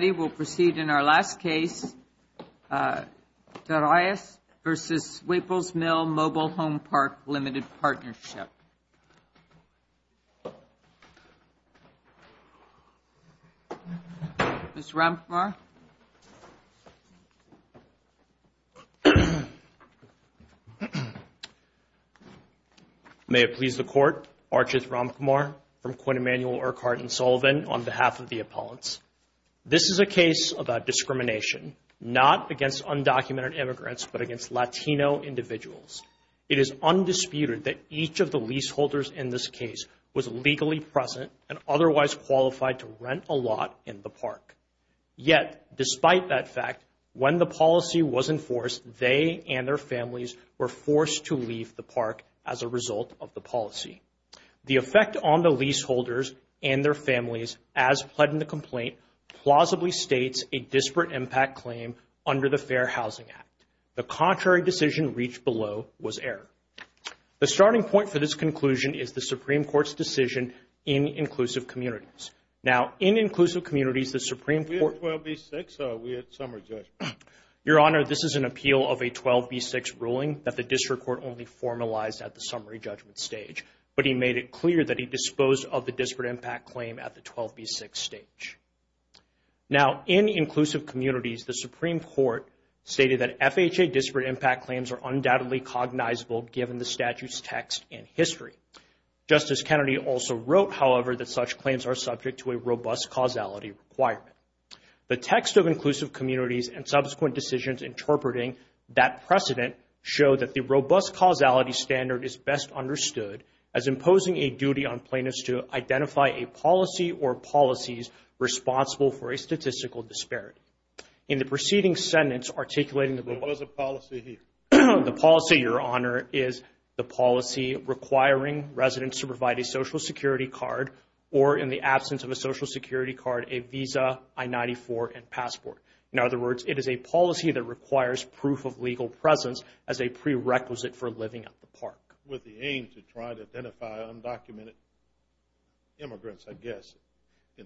in our last case, de Reyes v. Waples Mill Mobile Home Park Limited Partnership. Mr. Ramakumar. May it please the Court, Archith Ramakumar, from Quinn Emanuel, Urquhart & Sullivan, on this case. This is a case about discrimination, not against undocumented immigrants, but against Latino individuals. It is undisputed that each of the leaseholders in this case was legally present and otherwise qualified to rent a lot in the park. Yet, despite that fact, when the policy was enforced, they and their families were forced to leave the park as a result of the policy. The effect on the leaseholders and their families, as pled in the complaint, plausibly states a disparate impact claim under the Fair Housing Act. The contrary decision reached below was error. The starting point for this conclusion is the Supreme Court's decision in inclusive communities. Now, in inclusive communities, the Supreme Court We had 12B6, so we had summary judgment. Your Honor, this is an appeal of a 12B6 ruling that the district court only formalized at the summary judgment stage, but he made it clear that he disposed of the disparate impact claim at the 12B6 stage. Now, in inclusive communities, the Supreme Court stated that FHA disparate impact claims are undoubtedly cognizable given the statute's text and history. Justice Kennedy also wrote, however, that such claims are subject to a robust causality requirement. The text of inclusive communities and subsequent decisions interpreting that precedent show that the robust causality standard is best understood as imposing a duty on plaintiffs to identify a policy or policies responsible for a statistical disparate. In the preceding sentence articulating that there was a policy here, the policy, Your Honor, is the policy requiring residents to provide a Social Security card or in the absence of a Social Security card, a visa, I-94 and passport. In other words, it is a policy that requires proof of legal presence as a prerequisite for living at the park. With the aim to try to identify undocumented immigrants, I guess.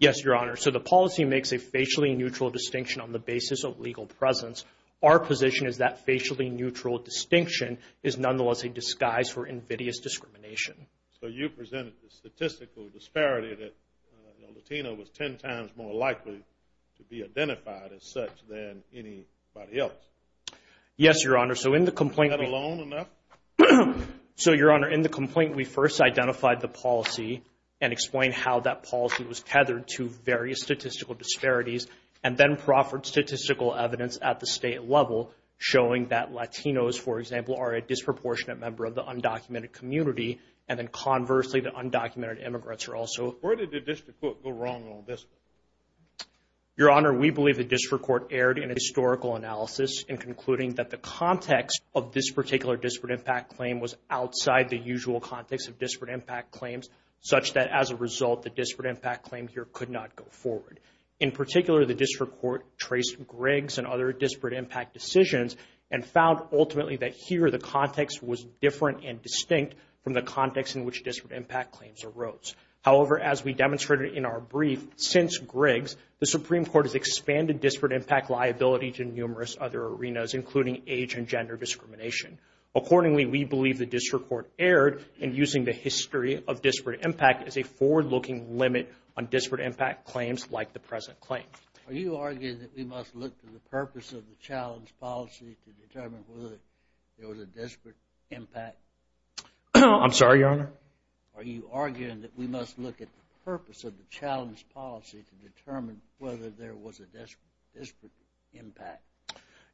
Yes, Your Honor. So, the policy makes a facially neutral distinction on the basis of legal presence. Our position is that facially neutral distinction is nonetheless a disguise for invidious discrimination. So, you presented the statistical disparity that Latino was 10 times more likely to be such than anybody else. Yes, Your Honor. So, in the complaint... Is that alone enough? So, Your Honor, in the complaint, we first identified the policy and explained how that policy was tethered to various statistical disparities and then proffered statistical evidence at the state level showing that Latinos, for example, are a disproportionate member of the undocumented community and then conversely, the undocumented immigrants are also... Where did the district court go wrong on this? Your Honor, we believe the district court erred in a historical analysis in concluding that the context of this particular disparate impact claim was outside the usual context of disparate impact claims such that as a result, the disparate impact claim here could not go forward. In particular, the district court traced Griggs and other disparate impact decisions and found ultimately that here, the context was different and distinct from the context in which disparate impact claims arose. However, as we demonstrated in our brief, since Griggs, the Supreme Court has expanded disparate impact liability to numerous other arenas including age and gender discrimination. Accordingly, we believe the district court erred in using the history of disparate impact as a forward-looking limit on disparate impact claims like the present claim. Are you arguing that we must look to the purpose of the challenge policy to determine whether I'm sorry, Your Honor? Are you arguing that we must look at the purpose of the challenge policy to determine whether there was a disparate impact?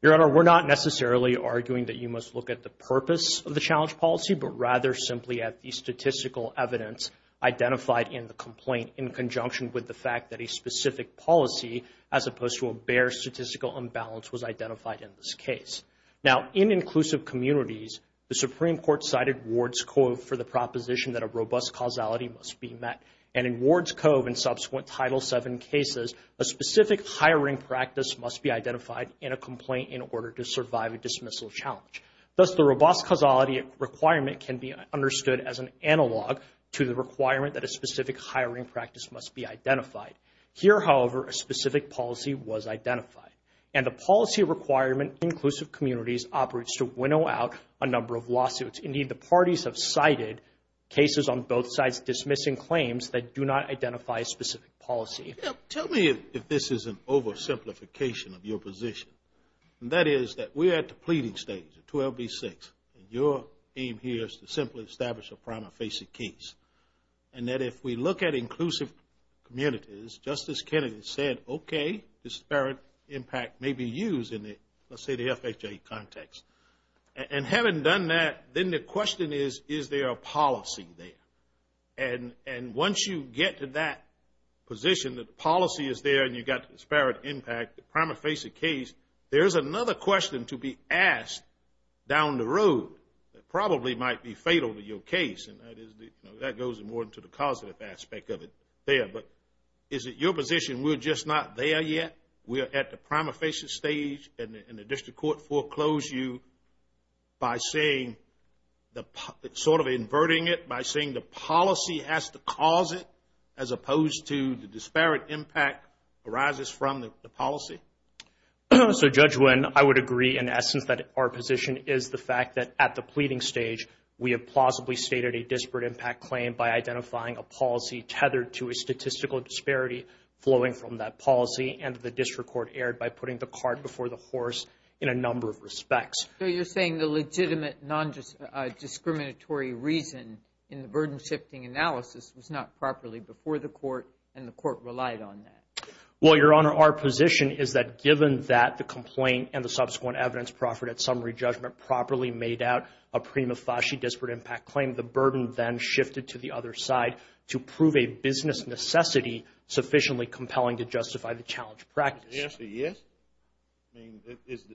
Your Honor, we're not necessarily arguing that you must look at the purpose of the challenge policy, but rather simply at the statistical evidence identified in the complaint in conjunction with the fact that a specific policy as opposed to a bare statistical imbalance was identified in this case. Now, in inclusive communities, the Supreme Court cited Ward's Cove for the proposition that a robust causality must be met. And in Ward's Cove and subsequent Title VII cases, a specific hiring practice must be identified in a complaint in order to survive a dismissal challenge. Thus, the robust causality requirement can be understood as an analog to the requirement that a specific hiring practice must be identified. Here, however, a specific policy was identified. And the policy requirement in inclusive communities operates to winnow out a number of lawsuits. Indeed, the parties have cited cases on both sides dismissing claims that do not identify a specific policy. Now, tell me if this is an oversimplification of your position. That is that we're at the pleading stage, 12B6, and your aim here is to simply establish a prima facie case. And that if we look at inclusive communities, Justice Kennedy said, okay, disparate impact may be used in the, let's say, the FHA context. And having done that, then the question is, is there a policy there? And once you get to that position that the policy is there and you've got disparate impact, the prima facie case, there's another question to be asked down the road that probably might be fatal to your case, and that goes more into the causative aspect of it there. But is it your position we're just not there yet? We're at the prima facie stage and the district court foreclosed you by saying, sort of inverting it, by saying the policy has to cause it as opposed to the disparate impact arises from the policy? So, Judge Wynn, I would agree in essence that our position is the fact that at the pleading stage, we have plausibly stated a disparate impact claim by identifying a policy tethered to a statistical disparity flowing from that policy, and the district court erred by putting the cart before the horse in a number of respects. So, you're saying the legitimate non-discriminatory reason in the burden-shifting analysis was not properly before the court and the court relied on that? Well, Your Honor, our position is that given that the complaint and the subsequent evidence proffered at summary judgment properly made out a prima facie disparate impact claim, the burden then shifted to the other side to prove a business necessity sufficiently compelling to justify the challenge practice. Is the answer yes? I mean,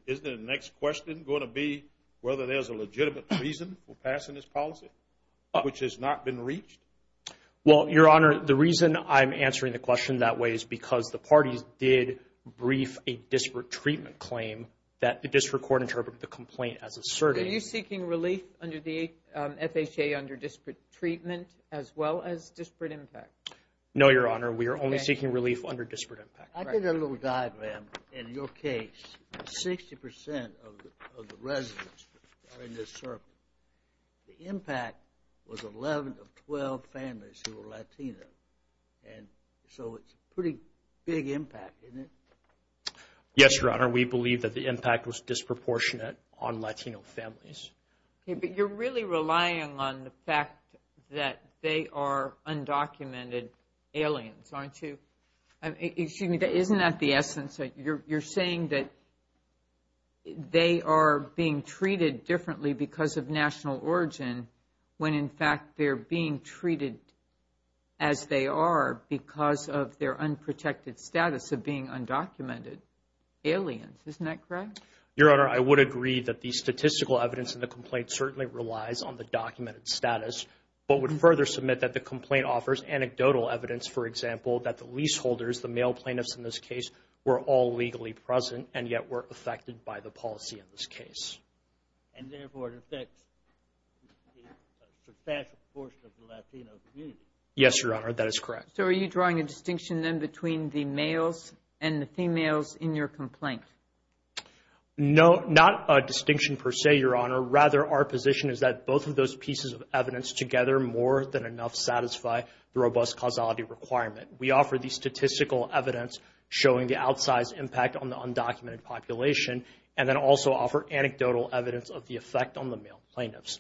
isn't the next question going to be whether there's a legitimate reason for passing this policy, which has not been reached? Well, Your Honor, the reason I'm answering the question that way is because the parties did brief a disparate treatment claim that the district court interpreted the complaint as assertive. Are you seeking relief under the FHA under disparate treatment as well as disparate impact? No, Your Honor, we are only seeking relief under disparate impact. I think a little diagram in your case, 60% of the residents are in this circle. The impact was 11 of 12 families who are Latino, and so it's a pretty big impact, isn't it? Yes, Your Honor, we believe that the impact was disproportionate on Latino families. Okay, but you're really relying on the fact that they are undocumented aliens, aren't you? Excuse me, isn't that the essence? You're saying that they are being treated differently because of national origin, when in fact they're being treated as they are because of their unprotected status of being undocumented aliens, isn't that correct? Your Honor, I would agree that the statistical evidence in the complaint certainly relies on the documented status, but would further submit that the complaint offers anecdotal evidence, for example, that the leaseholders, the male plaintiffs in this case, were all legally present and yet were affected by the policy in this case. And therefore, it affects a substantial portion of the Latino community. Yes, Your Honor, that is correct. So, are you drawing a distinction then between the males and the females in your complaint? No, not a distinction per se, Your Honor. Rather, our position is that both of those pieces of evidence together more than enough to satisfy the robust causality requirement. We offer the statistical evidence showing the outsized impact on the undocumented population and then also offer anecdotal evidence of the effect on the male plaintiffs.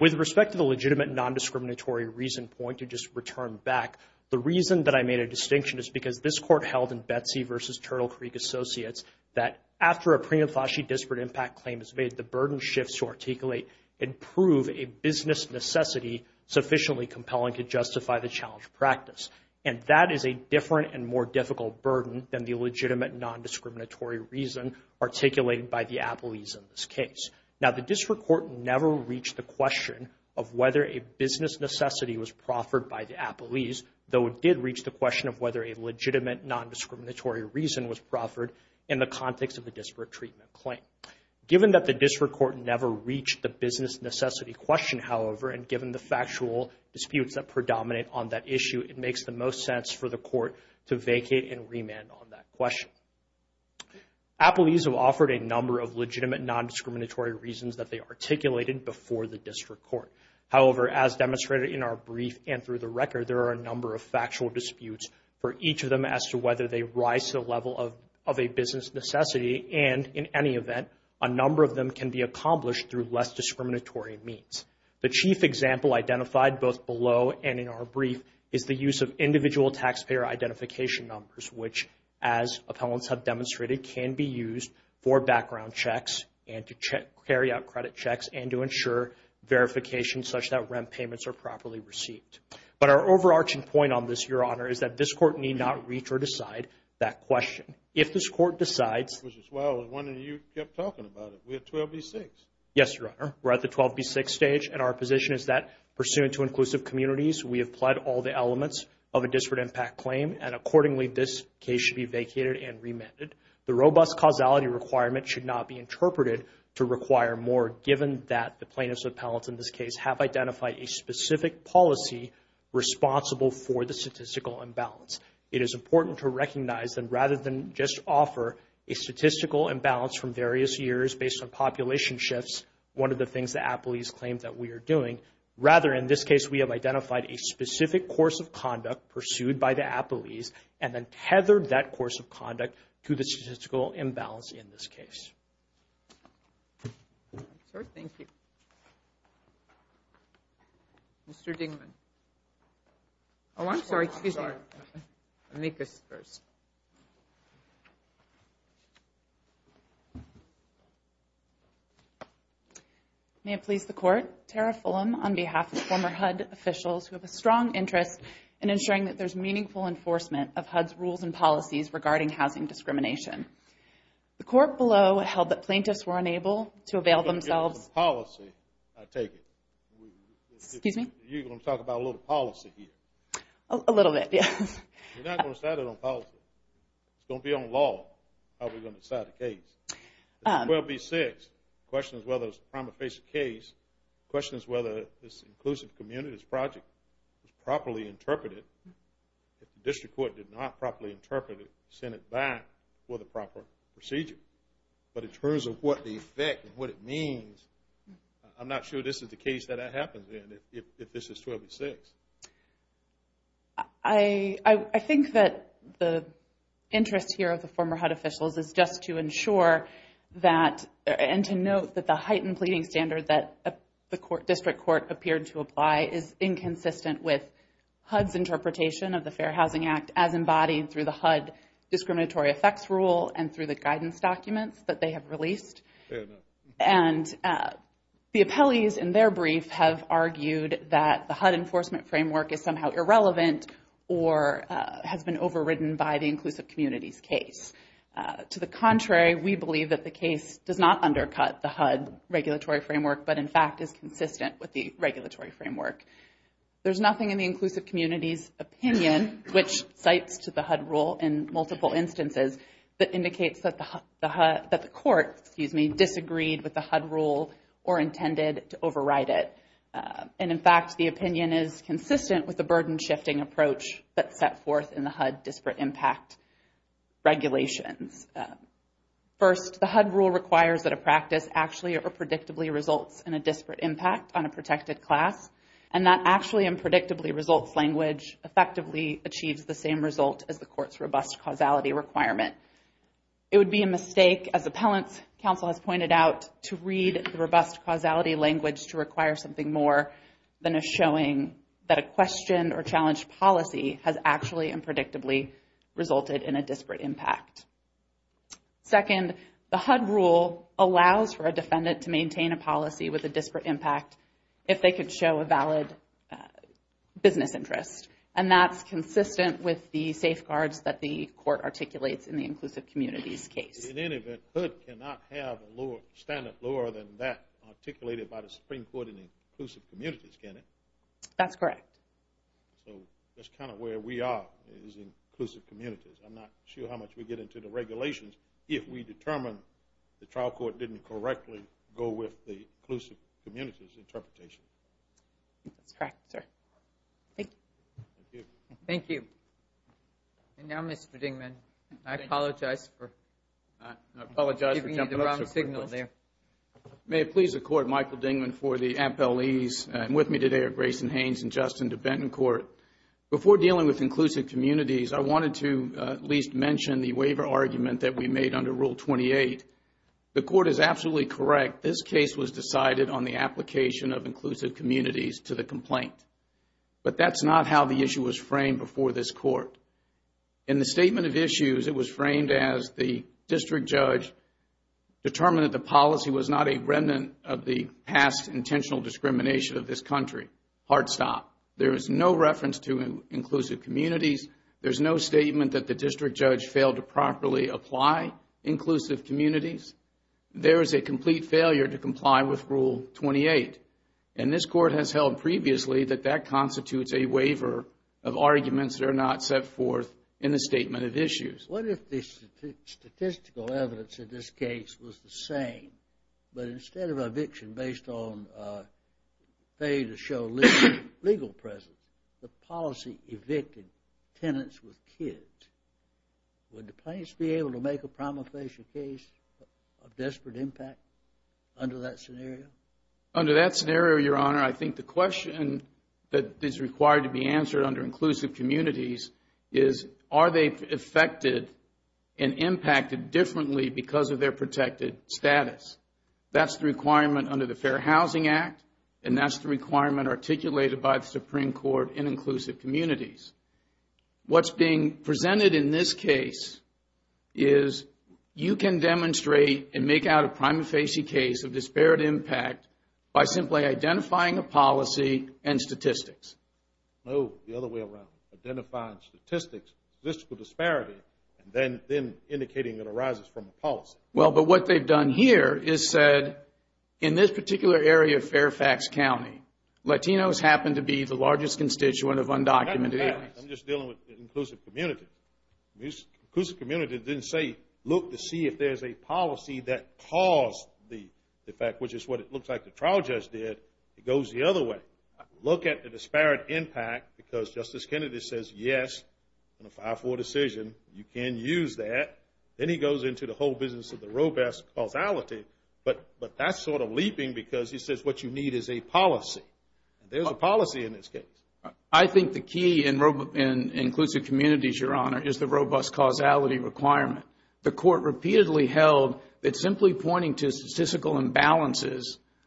With respect to the legitimate non-discriminatory reason point to just return back, the reason that I made a distinction is because this Court held in Betsy v. Turtle Creek Associates that after a prima facie disparate impact claim is made, the burden shifts to articulate and prove a business necessity sufficiently compelling to justify the challenge practice. And that is a different and more difficult burden than the legitimate non-discriminatory reason articulated by the appellees in this case. Now, the District Court never reached the question of whether a business necessity was proffered by the appellees, though it did reach the question of whether a legitimate non-discriminatory reason was proffered in the context of the disparate treatment claim. Given that the District Court never reached the business necessity question, however, and given the factual disputes that predominate on that issue, it makes the most sense for the Court to vacate and remand on that question. Appellees have offered a number of legitimate non-discriminatory reasons that they articulated before the District Court. However, as demonstrated in our brief and through the record, there are a number of factual disputes for each of them as to whether they rise to the level of a business necessity and, in any event, a number of them can be accomplished through less discriminatory means. The chief example identified both below and in our brief is the use of individual taxpayer identification numbers, which, as appellants have demonstrated, can be used for background checks and to carry out credit checks and to ensure verification such that rent payments are properly received. But our overarching point on this, Your Honor, is that this Court need not reach or decide that question. If this Court decides... Mr. Swalwell, I was wondering, you kept talking about it, we're at 12B6. Yes, Your Honor, we're at the 12B6 stage and our position is that, pursuant to inclusive communities, we have pled all the elements of a disparate impact claim and, accordingly, this case should be vacated and remanded. The robust causality requirement should not be interpreted to require more, given that the plaintiffs and appellants in this case have identified a specific policy responsible for the statistical imbalance. It is important to recognize that, rather than just offer a statistical imbalance from various years based on population shifts, one of the things the appellees claim that we are doing, rather, in this case, we have identified a specific course of conduct pursued by the appellees and then tethered that course of conduct to the statistical imbalance in this case. Sir, thank you. Oh, I'm sorry. Excuse me. I'm sorry. I'll make this first. May it please the Court, Tara Fulham on behalf of former HUD officials who have a strong interest in ensuring that there's meaningful enforcement of HUD's rules and policies regarding housing discrimination. The Court below held that plaintiffs were unable to avail themselves I take it. Excuse me? You're going to talk about a little policy here. A little bit, yes. We're not going to decide it on policy. It's going to be on law how we're going to decide the case. 12B6 questions whether it's a prima facie case, questions whether this inclusive communities project is properly interpreted. If the district court did not properly interpret it, send it back for the proper procedure. But in terms of what the effect and what it means, I'm not sure this is the case that that happens in if this is 12B6. I think that the interest here of the former HUD officials is just to ensure that and to note that the heightened pleading standard that the district court appeared to apply is inconsistent with HUD's interpretation of the Fair Housing Act as embodied through the HUD discriminatory effects rule and through the guidance documents that they have released. And the appellees in their brief have argued that the HUD enforcement framework is somehow irrelevant or has been overridden by the inclusive communities case. To the contrary, we believe that the case does not undercut the HUD regulatory framework, but in fact is consistent with the regulatory framework. There's nothing in the inclusive communities opinion, which cites to the HUD rule in multiple instances, that indicates that the court disagreed with the HUD rule or intended to override it. And in fact, the opinion is consistent with the burden-shifting approach that's set forth in the HUD disparate impact regulations. First, the HUD rule requires that a practice actually or predictably results in a disparate impact on a protected class, and that actually and predictably results language effectively achieves the same result as the court's robust causality requirement. It would be a mistake, as appellants, counsel has pointed out, to read the robust causality language to require something more than a showing that a question or challenge policy has actually and predictably resulted in a disparate impact. Second, the HUD rule allows for a defendant to maintain a policy with a disparate impact if they could show a valid business interest, and that's consistent with the safeguards that the court articulates in the inclusive communities case. In any event, HUD cannot have a standard lower than that articulated by the Supreme Court in the inclusive communities, can it? That's correct. So that's kind of where we are is inclusive communities. I'm not sure how much we get into the regulations if we determine the trial court didn't correctly go with the inclusive communities interpretation. That's correct, sir. Thank you. Thank you. And now, Mr. Dingman, I apologize for giving you the wrong signal there. May it please the court, Michael Dingman for the appellees. I'm with me today are Grayson Haynes and Justin DeBettencourt. Before dealing with inclusive communities, I wanted to at least mention the waiver argument that we made under Rule 28. The court is absolutely correct. This case was decided on the application of inclusive communities to the complaint. But that's not how the issue was framed before this court. In the statement of issues, it was framed as the district judge determined that the policy was not a remnant of the past intentional discrimination of this country. Hard stop. There is no reference to inclusive communities. There's no statement that the district judge failed to properly apply inclusive communities. There is a complete failure to comply with Rule 28. And this court has held previously that that constitutes a waiver of arguments that are not set forth in the statement of issues. What if the statistical evidence in this case was the same, but instead of eviction based on failure to show legal presence, the policy evicted tenants with kids? Would the plaintiffs be able to make a prima facie case of desperate impact under that scenario? Under that scenario, Your Honor, I think the question that is required to be answered under inclusive communities is are they affected and impacted differently because of their protected status? That's the requirement under the Fair Housing Act, and that's the requirement articulated by the Supreme Court in inclusive communities. What's being presented in this case is you can demonstrate and make out a prima facie case of disparate impact by simply identifying a policy and statistics. No, the other way around. Identifying statistics, statistical disparity, and then indicating it arises from a policy. Well, but what they've done here is said in this particular area of Fairfax County, Latinos happen to be the largest constituent of undocumented aliens. I'm just dealing with inclusive communities. Inclusive communities didn't say look to see if there's a policy that caused the effect, which is what it looks like the trial judge did. It goes the other way. Look at the disparate impact because Justice Kennedy says yes, in a 5-4 decision, you can use that. Then he goes into the whole business of the robust causality, but that's sort of leaping because he says what you need is a policy. There's a policy in this case. I think the key in inclusive communities, Your Honor, is the robust causality requirement. The court repeatedly held that simply pointing to statistical imbalances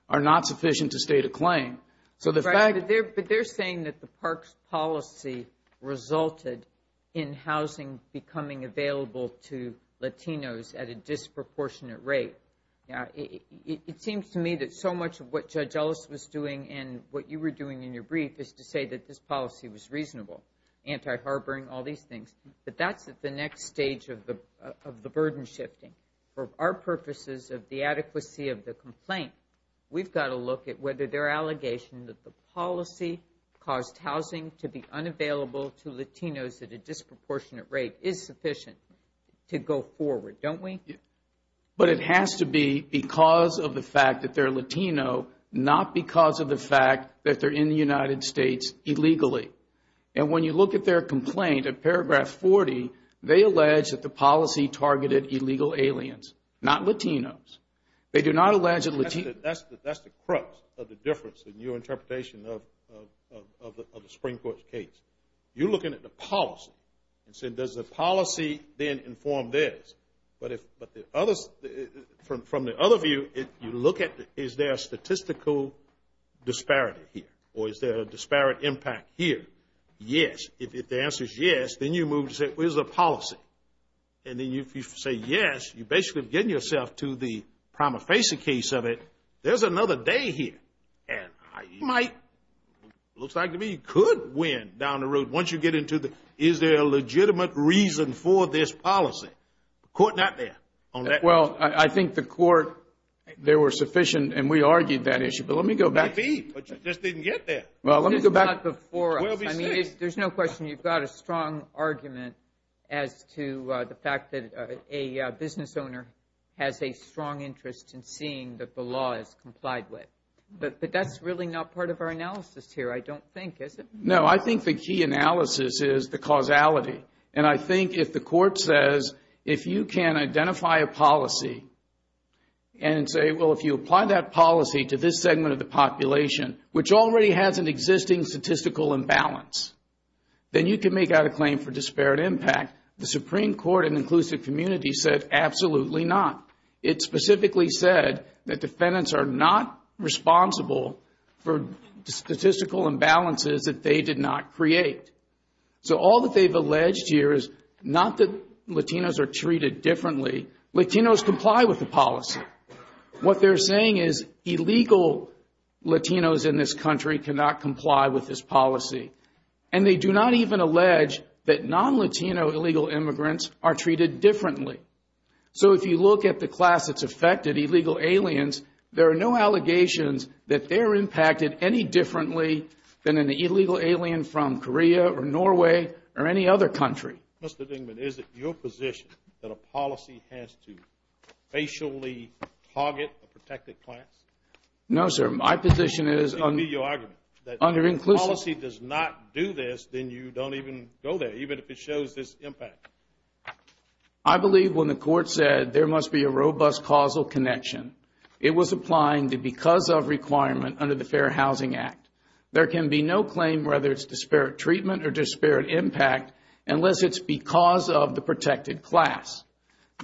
are not sufficient to state a claim. But they're saying that the parks policy resulted in housing becoming available to Latinos at a disproportionate rate. It seems to me that so much of what Judge Ellis was doing and what you were doing in that this policy was reasonable, anti-harboring, all these things. But that's at the next stage of the burden shifting. For our purposes of the adequacy of the complaint, we've got to look at whether their allegation that the policy caused housing to be unavailable to Latinos at a disproportionate rate is sufficient to go forward. Don't we? But it has to be because of the fact that they're Latino, not because of the fact that they're in the United States illegally. And when you look at their complaint in paragraph 40, they allege that the policy targeted illegal aliens, not Latinos. They do not allege that Latinos... That's the crux of the difference in your interpretation of the Supreme Court's case. You're looking at the policy and saying does the policy then inform this? But from the other view, you look at is there a statistical disparity here or is there a disparate impact here? Yes. If the answer is yes, then you move to say where's the policy? And then if you say yes, you basically have given yourself to the prima facie case of it. There's another day here. And you might, looks like to me you could win down the road once you get into the is there a legitimate reason for this policy? The court's not there on that. Well, I think the court, they were sufficient and we argued that issue. But let me go back... Maybe, but you just didn't get there. Well, let me go back... It's not before us. I mean, there's no question you've got a strong argument as to the fact that a business owner has a strong interest in seeing that the law is complied with. But that's really not part of our analysis here, I don't think, is it? No, I think the key analysis is the causality. And I think if the court says, if you can identify a policy and say, well, if you apply that policy to this segment of the population, which already has an existing statistical imbalance, then you can make out a claim for disparate impact. The Supreme Court in inclusive community said absolutely not. It specifically said that defendants are not responsible for statistical imbalances that they did not create. So all that they've alleged here is not that Latinos are treated differently. Latinos comply with the policy. What they're saying is illegal Latinos in this country cannot comply with this policy. And they do not even allege that non-Latino illegal immigrants are treated differently. So if you look at the class that's affected, illegal aliens, there are no allegations that they're impacted any differently than an illegal alien from Korea or Norway or any other country. Mr. Dingman, is it your position that a policy has to facially target a protected class? No, sir. My position is under inclusive. That if the policy does not do this, then you don't even go there, even if it shows this impact. I believe when the court said there must be a robust causal connection, it was applying the because of requirement under the Fair Housing Act. There can be no claim whether it's disparate treatment or disparate impact unless it's because of the protected class.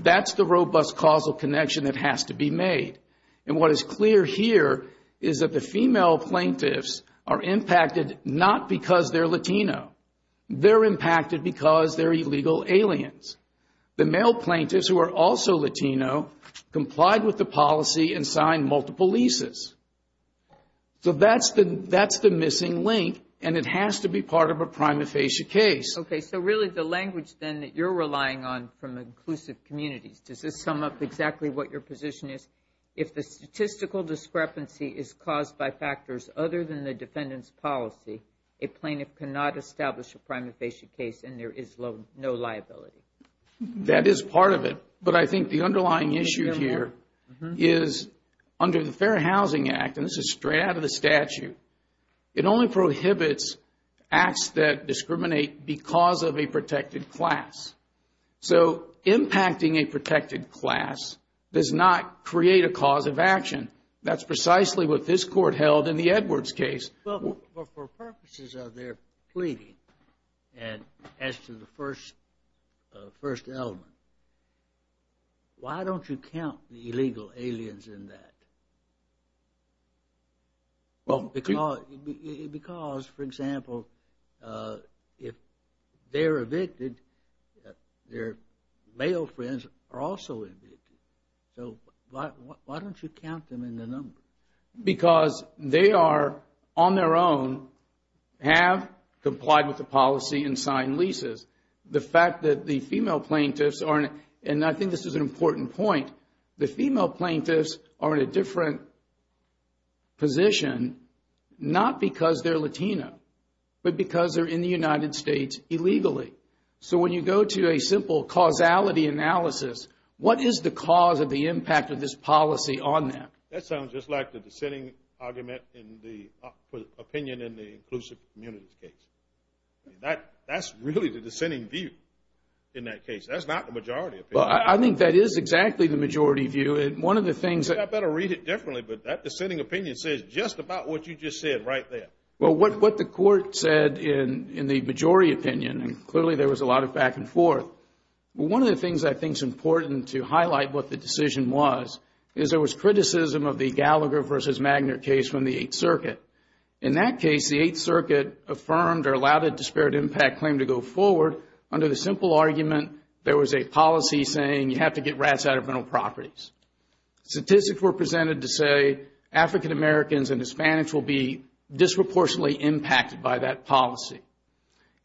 That's the robust causal connection that has to be made. And what is clear here is that the female plaintiffs are impacted not because they're Latino. They're impacted because they're illegal aliens. The male plaintiffs, who are also Latino, complied with the policy and signed multiple leases. So that's the missing link, and it has to be part of a prima facie case. Okay, so really the language then that you're relying on from inclusive communities, does this sum up exactly what your position is? If the statistical discrepancy is caused by factors other than the defendant's policy, a plaintiff cannot establish a prima facie case, and there is no liability. That is part of it. But I think the underlying issue here is under the Fair Housing Act, and this is straight out of the statute, it only prohibits acts that discriminate because of a protected class. So impacting a protected class does not create a cause of action. That's precisely what this court held in the Edwards case. Well, for purposes of their pleading, and as to the first element, why don't you count the illegal aliens in that? Because, for example, if they're evicted, their male friends are also evicted. So why don't you count them in the numbers? Because they are on their own, have complied with the policy and signed leases. The fact that the female plaintiffs are, and I think this is an important point, the female plaintiffs are in a different position, not because they're Latino, but because they're in the United States illegally. So when you go to a simple causality analysis, what is the cause of the impact of this policy on them? That sounds just like the dissenting argument in the opinion in the inclusive communities case. That's really the dissenting view in that case. That's not the majority opinion. Well, I think that is exactly the majority view. I better read it differently, but that dissenting opinion says just about what you just said right there. Well, what the court said in the majority opinion, and clearly there was a lot of back and forth, one of the things I think is important to highlight what the decision was is there was criticism of the Gallagher versus Magner case from the Eighth Circuit. In that case, the Eighth Circuit affirmed or allowed a disparate impact claim to go forward under the simple argument there was a policy saying you have to get rats out of rental properties. Statistics were presented to say African Americans and Hispanics will be disproportionately impacted by that policy.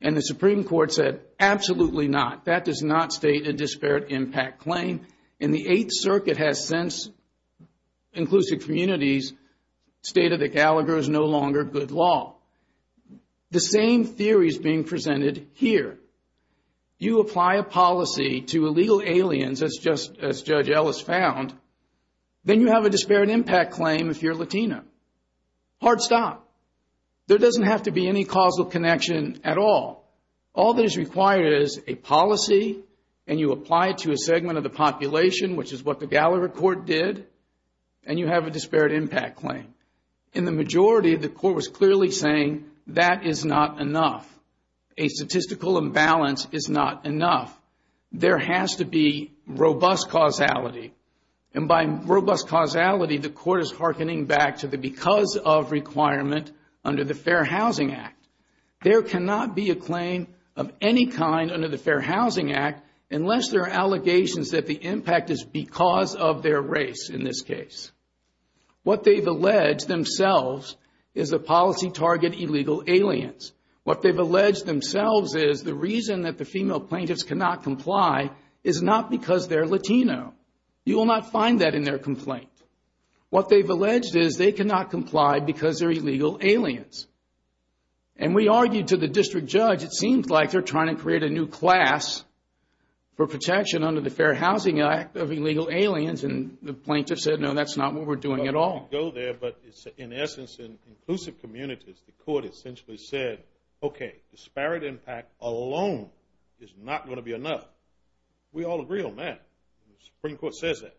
And the Supreme Court said absolutely not. That does not state a disparate impact claim. And the Eighth Circuit has since, inclusive communities, stated that Gallagher is no longer good law. The same theory is being presented here. You apply a policy to illegal aliens, as Judge Ellis found, then you have a disparate impact claim if you're Latina. Hard stop. There doesn't have to be any causal connection at all. All that is required is a policy and you apply it to a segment of the population, which is what the Gallagher court did, and you have a disparate impact claim. In the majority, the court was clearly saying that is not enough. A statistical imbalance is not enough. There has to be robust causality. And by robust causality, the court is hearkening back to the because of requirement under the Fair Housing Act. There cannot be a claim of any kind under the Fair Housing Act unless there are allegations that the impact is because of their race in this case. What they've alleged themselves is the policy target illegal aliens. What they've alleged themselves is the reason that the female plaintiffs cannot comply is not because they're Latino. You will not find that in their complaint. What they've alleged is they cannot comply because they're illegal aliens. And we argued to the district judge, it seems like they're trying to create a new class for protection under the Fair Housing Act of illegal aliens. And the plaintiff said, no, that's not what we're doing at all. Go there, but in essence, in inclusive communities, the court essentially said, okay, disparate impact alone is not going to be enough. We all agree on that. The Supreme Court says that.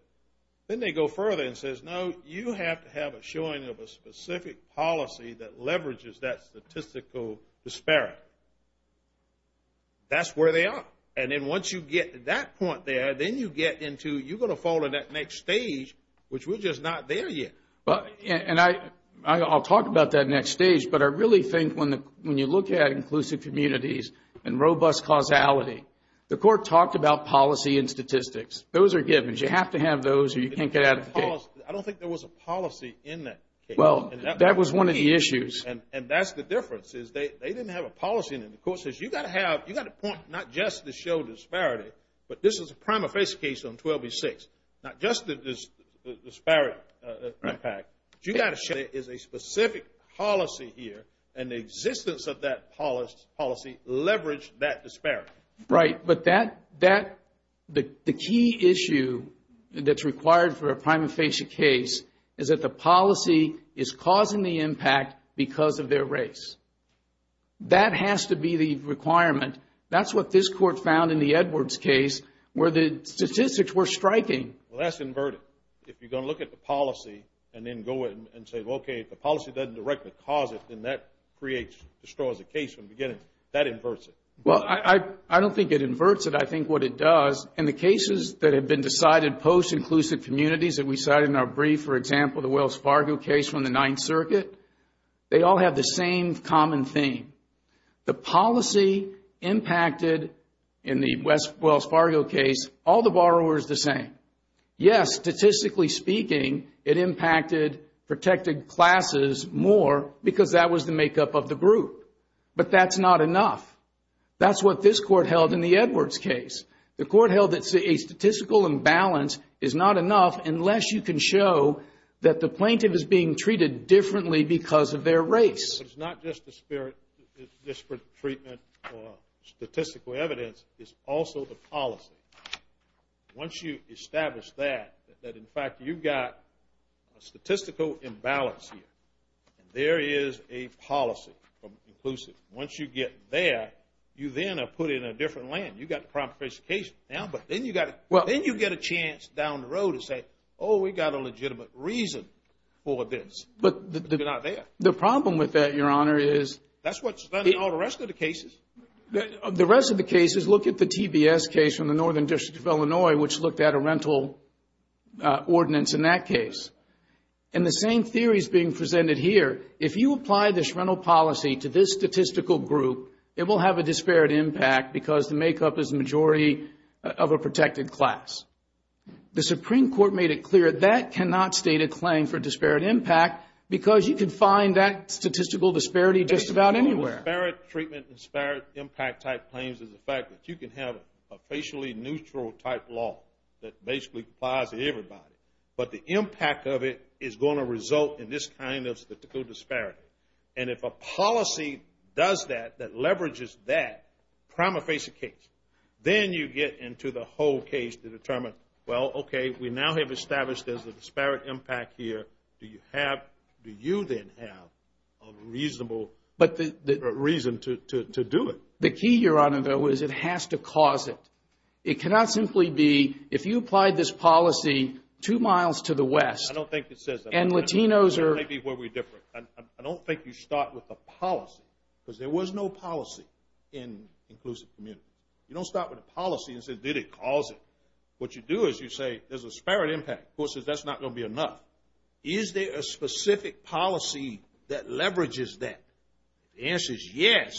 Then they go further and says, no, you have to have a showing of a specific policy that leverages that statistical disparity. That's where they are. And then once you get to that point there, then you get into you're going to fall in that next stage, which we're just not there yet. And I'll talk about that next stage, but I really think when you look at inclusive communities and robust causality, the court talked about policy and statistics. Those are givens. You have to have those or you can't get out of the case. I don't think there was a policy in that case. Well, that was one of the issues. And that's the difference is they didn't have a policy in it. The court says you've got to have, you've got to point not just to show disparity, but this is a prima facie case on 12B6. Not just the disparate impact. You've got to show there is a specific policy here, and the existence of that policy leveraged that disparity. Right. But that, the key issue that's required for a prima facie case is that the policy is causing the impact because of their race. That has to be the requirement. That's what this court found in the Edwards case where the statistics were striking. Well, that's inverted. If you're going to look at the policy and then go in and say, okay, if the policy doesn't directly cause it, then that creates, destroys the case from the beginning. That inverts it. Well, I don't think it inverts it. I think what it does, in the cases that have been decided post-inclusive communities that we cited in our brief, for example, the Wells Fargo case from the Ninth Circuit, they all have the same common theme. The policy impacted, in the Wells Fargo case, all the borrowers the same. Yes, statistically speaking, it impacted protected classes more because that was the makeup of the group. But that's not enough. That's what this court held in the Edwards case. The court held that a statistical imbalance is not enough unless you can show that the plaintiff is being treated differently because of their race. It's not just the spirit, just for treatment or statistical evidence. It's also the policy. Once you establish that, that, in fact, you've got a statistical imbalance here, and there is a policy from inclusive. Once you get there, you then are put in a different land. You've got the proper case now, but then you get a chance down the road to say, oh, we've got a legitimate reason for this. But they're not there. The problem with that, Your Honor, is... That's what's done in all the rest of the cases. The rest of the cases, look at the TBS case from the Northern District of Illinois, which looked at a rental ordinance in that case. And the same theory is being presented here. If you apply this rental policy to this statistical group, it will have a disparate impact because the makeup is a majority of a protected class. The Supreme Court made it clear that cannot state a claim for disparate impact because you can find that statistical disparity just about anywhere. Disparate treatment, disparate impact type claims is the fact that you can have a racially neutral type law that basically applies to everybody, but the impact of it is going to result in this kind of statistical disparity. And if a policy does that, that leverages that, prima facie case, then you get into the whole case to determine, well, okay, we now have established there's a disparate impact here. Do you then have a reasonable reason to do it? The key, Your Honor, though, is it has to cause it. It cannot simply be if you applied this policy two miles to the west. I don't think it says that. And Latinos are. Maybe where we're different. I don't think you start with a policy because there was no policy in inclusive community. You don't start with a policy and say, did it cause it? What you do is you say there's a disparate impact. Of course, that's not going to be enough. Is there a specific policy that leverages that? The answer is yes.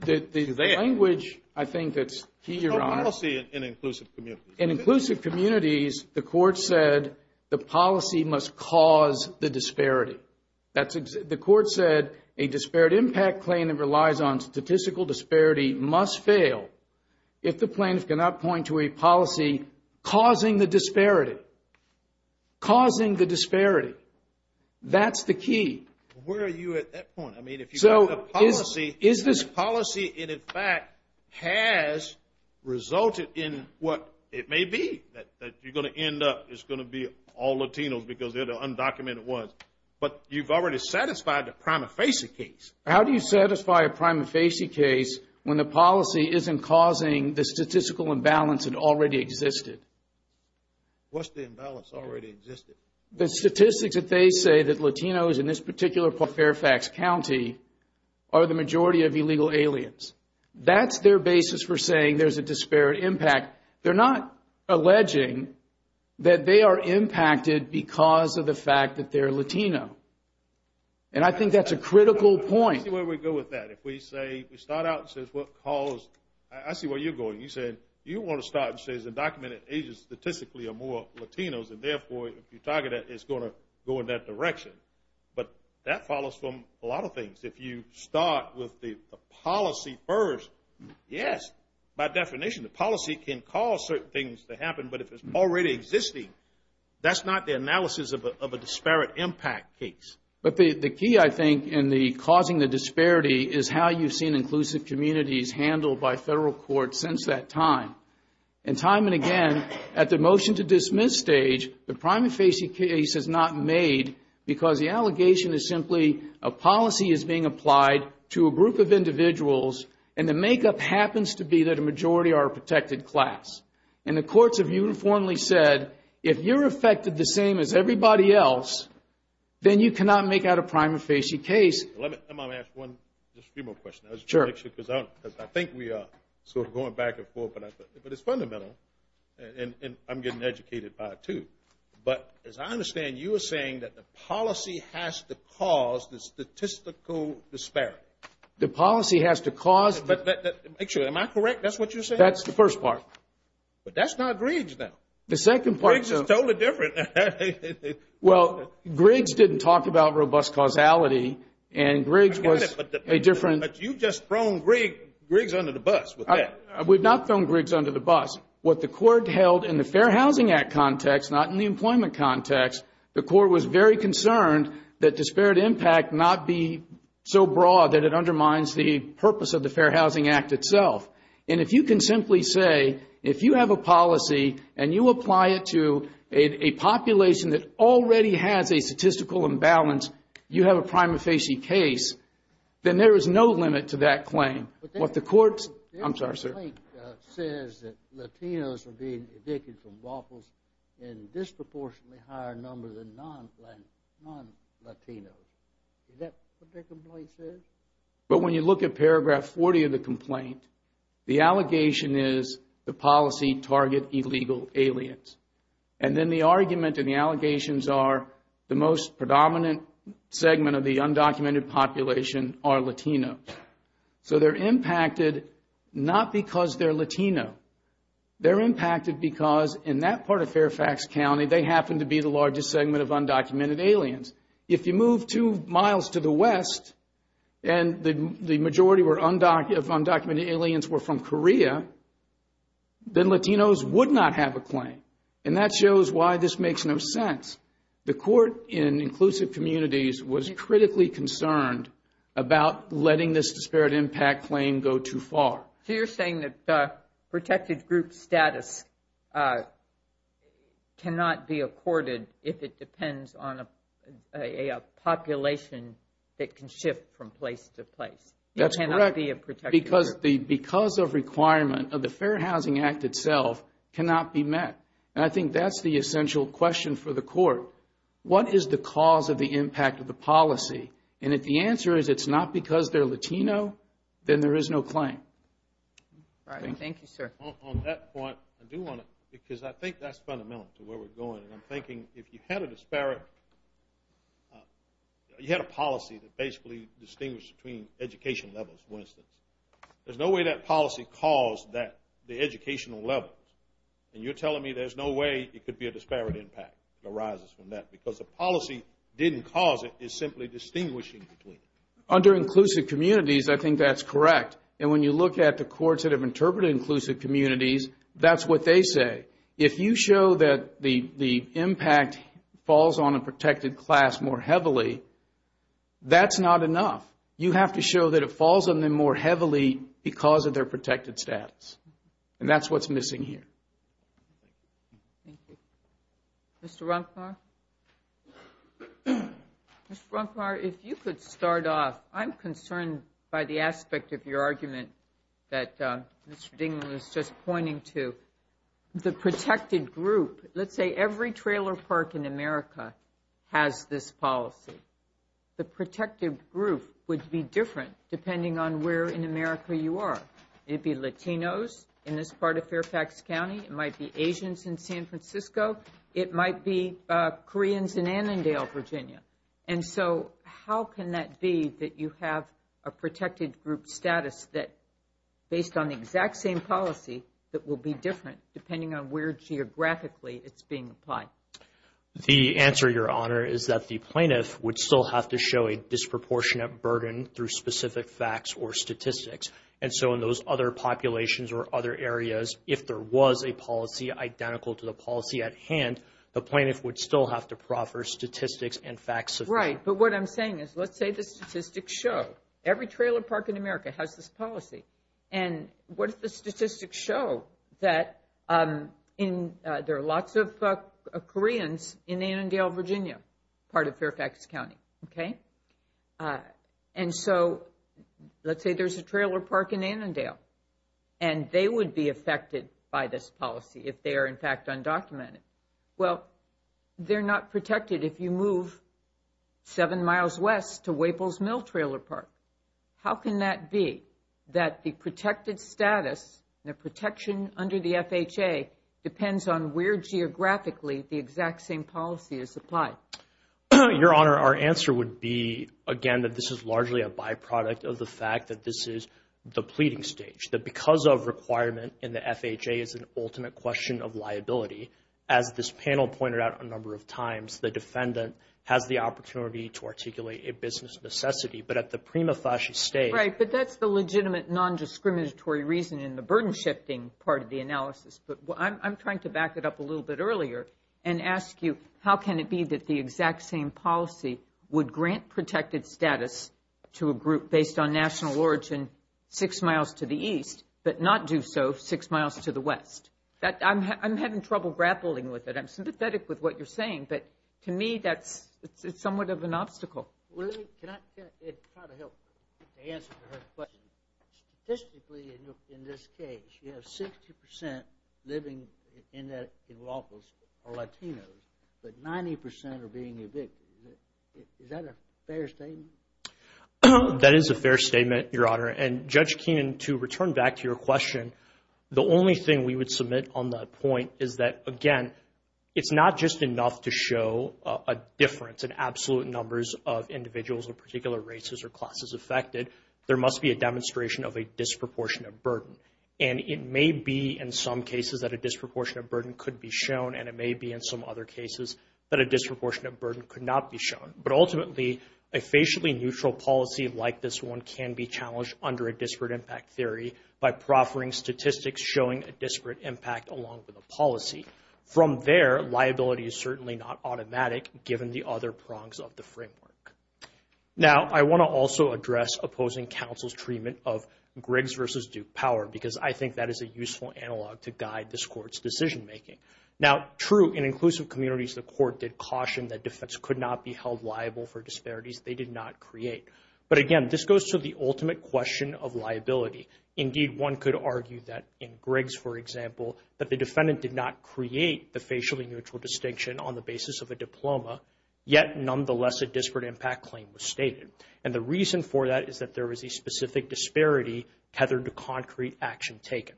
The language, I think, that's key, Your Honor. There's no policy in inclusive communities. In inclusive communities, the court said the policy must cause the disparity. The court said a disparate impact claim that relies on statistical disparity must fail if the plaintiff cannot point to a policy causing the disparity. Causing the disparity. That's the key. Where are you at that point? The policy, in fact, has resulted in what it may be that you're going to end up. It's going to be all Latinos because they're the undocumented ones. But you've already satisfied the prima facie case. How do you satisfy a prima facie case when the policy isn't causing the statistical imbalance that already existed? What's the imbalance that already existed? The statistics that they say that Latinos, in this particular Fairfax County, are the majority of illegal aliens. That's their basis for saying there's a disparate impact. They're not alleging that they are impacted because of the fact that they're Latino. And I think that's a critical point. Let's see where we go with that. If we start out and say, I see where you're going. You said you want to start and say that undocumented Asians statistically are more Latinos and, therefore, if you target that, it's going to go in that direction. But that follows from a lot of things. If you start with the policy first, yes, by definition, the policy can cause certain things to happen. But if it's already existing, that's not the analysis of a disparate impact case. But the key, I think, in causing the disparity is how you've seen inclusive communities handled by federal courts since that time. And time and again, at the motion-to-dismiss stage, the prima facie case is not made because the allegation is simply a policy is being applied to a group of individuals and the makeup happens to be that a majority are a protected class. And the courts have uniformly said, if you're affected the same as everybody else, then you cannot make out a prima facie case. Let me ask just a few more questions. Sure. Because I think we are sort of going back and forth, but it's fundamental. And I'm getting educated by it, too. But as I understand, you are saying that the policy has to cause the statistical disparity. The policy has to cause. Make sure. Am I correct? That's what you're saying? That's the first part. But that's not Griggs, though. Griggs is totally different. Well, Griggs didn't talk about robust causality, and Griggs was a different. But you've just thrown Griggs under the bus with that. We've not thrown Griggs under the bus. What the court held in the Fair Housing Act context, not in the employment context, the court was very concerned that disparate impact not be so broad that it undermines the purpose of the Fair Housing Act itself. And if you can simply say, if you have a policy and you apply it to a population that already has a statistical imbalance, you have a prima facie case, then there is no limit to that claim. What the court's... I'm sorry, sir. Their complaint says that Latinos are being evicted from waffles in disproportionately higher numbers than non-Latinos. Is that what their complaint says? But when you look at paragraph 40 of the complaint, the allegation is the policy target illegal aliens. And then the argument and the allegations are the most predominant segment of the undocumented population are Latino. So they're impacted not because they're Latino. They're impacted because in that part of Fairfax County, they happen to be the largest segment of undocumented aliens. If you move two miles to the west, and the majority of undocumented aliens were from Korea, then Latinos would not have a claim. And that shows why this makes no sense. The court in inclusive communities was critically concerned about letting this disparate impact claim go too far. So you're saying that protected group status cannot be accorded if it depends on a population that can shift from place to place. That's correct. It cannot be a protected group. Because of requirement of the Fair Housing Act itself cannot be met. And I think that's the essential question for the court. What is the cause of the impact of the policy? And if the answer is it's not because they're Latino, then there is no claim. Thank you, sir. On that point, I do want to, because I think that's fundamental to where we're going. And I'm thinking if you had a disparate, you had a policy that basically distinguished between education levels, for instance. There's no way that policy caused the educational levels. And you're telling me there's no way it could be a disparate impact that arises from that. Because the policy didn't cause it. It's simply distinguishing between it. Under inclusive communities, I think that's correct. And when you look at the courts that have interpreted inclusive communities, that's what they say. If you show that the impact falls on a protected class more heavily, that's not enough. You have to show that it falls on them more heavily because of their protected status. And that's what's missing here. Thank you. Mr. Runknarr? Mr. Runknarr, if you could start off. I'm concerned by the aspect of your argument that Mr. Dingell is just pointing to. The protected group, let's say every trailer park in America has this policy. The protected group would be different depending on where in America you are. It would be Latinos in this part of Fairfax County. It might be Asians in San Francisco. It might be Koreans in Annandale, Virginia. And so how can that be that you have a protected group status based on the exact same policy that will be different depending on where geographically it's being applied? The answer, Your Honor, is that the plaintiff would still have to show a disproportionate burden through specific facts or statistics. And so in those other populations or other areas, if there was a policy identical to the policy at hand, the plaintiff would still have to proffer statistics and facts. Right, but what I'm saying is, let's say the statistics show every trailer park in America has this policy. And what if the statistics show that there are lots of Koreans in Annandale, Virginia, part of Fairfax County? Okay. And so let's say there's a trailer park in Annandale, and they would be affected by this policy if they are, in fact, undocumented. Well, they're not protected if you move seven miles west to Waples Mill Trailer Park. How can that be that the protected status and the protection under the FHA depends on where geographically the exact same policy is applied? Your Honor, our answer would be, again, that this is largely a byproduct of the fact that this is the pleading stage, that because of requirement in the FHA is an ultimate question of liability. As this panel pointed out a number of times, the defendant has the opportunity to articulate a business necessity. But at the prima facie stage – Right, but that's the legitimate non-discriminatory reason in the burden-shifting part of the analysis. But I'm trying to back it up a little bit earlier and ask you, how can it be that the exact same policy would grant protected status to a group based on national origin six miles to the east but not do so six miles to the west? I'm having trouble grappling with it. I'm sympathetic with what you're saying, but to me that's – it's somewhat of an obstacle. Well, let me – can I – it would probably help to answer her question. Statistically, in this case, you have 60% living in lawfuls or Latinos, but 90% are being evicted. Is that a fair statement? That is a fair statement, Your Honor. And, Judge Keenan, to return back to your question, the only thing we would submit on that point is that, again, it's not just enough to show a difference in absolute numbers of individuals or particular races or classes affected. There must be a demonstration of a disproportionate burden. And it may be, in some cases, that a disproportionate burden could be shown, and it may be, in some other cases, that a disproportionate burden could not be shown. But ultimately, a facially neutral policy like this one can be challenged under a disparate impact theory by proffering statistics showing a disparate impact along with a policy. From there, liability is certainly not automatic, given the other prongs of the framework. Now, I want to also address opposing counsel's treatment of Griggs versus Duke power, because I think that is a useful analog to guide this Court's decision-making. Now, true, in inclusive communities, the Court did caution that defense could not be held liable for disparities they did not create. But, again, this goes to the ultimate question of liability. Indeed, one could argue that in Griggs, for example, that the defendant did not create the facially neutral distinction on the basis of a diploma, yet, nonetheless, a disparate impact claim was stated. And the reason for that is that there was a specific disparity tethered to concrete action taken.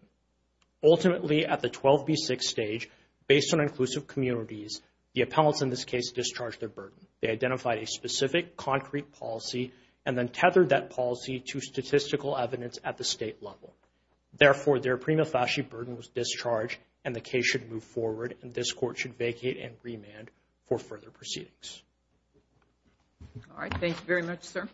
Ultimately, at the 12B6 stage, based on inclusive communities, the appellants in this case discharged their burden. They identified a specific concrete policy and then tethered that policy to statistical evidence at the state level. Therefore, their prima facie burden was discharged and the case should move forward, and this Court should vacate and remand for further proceedings. All right. Thanks very much, sir.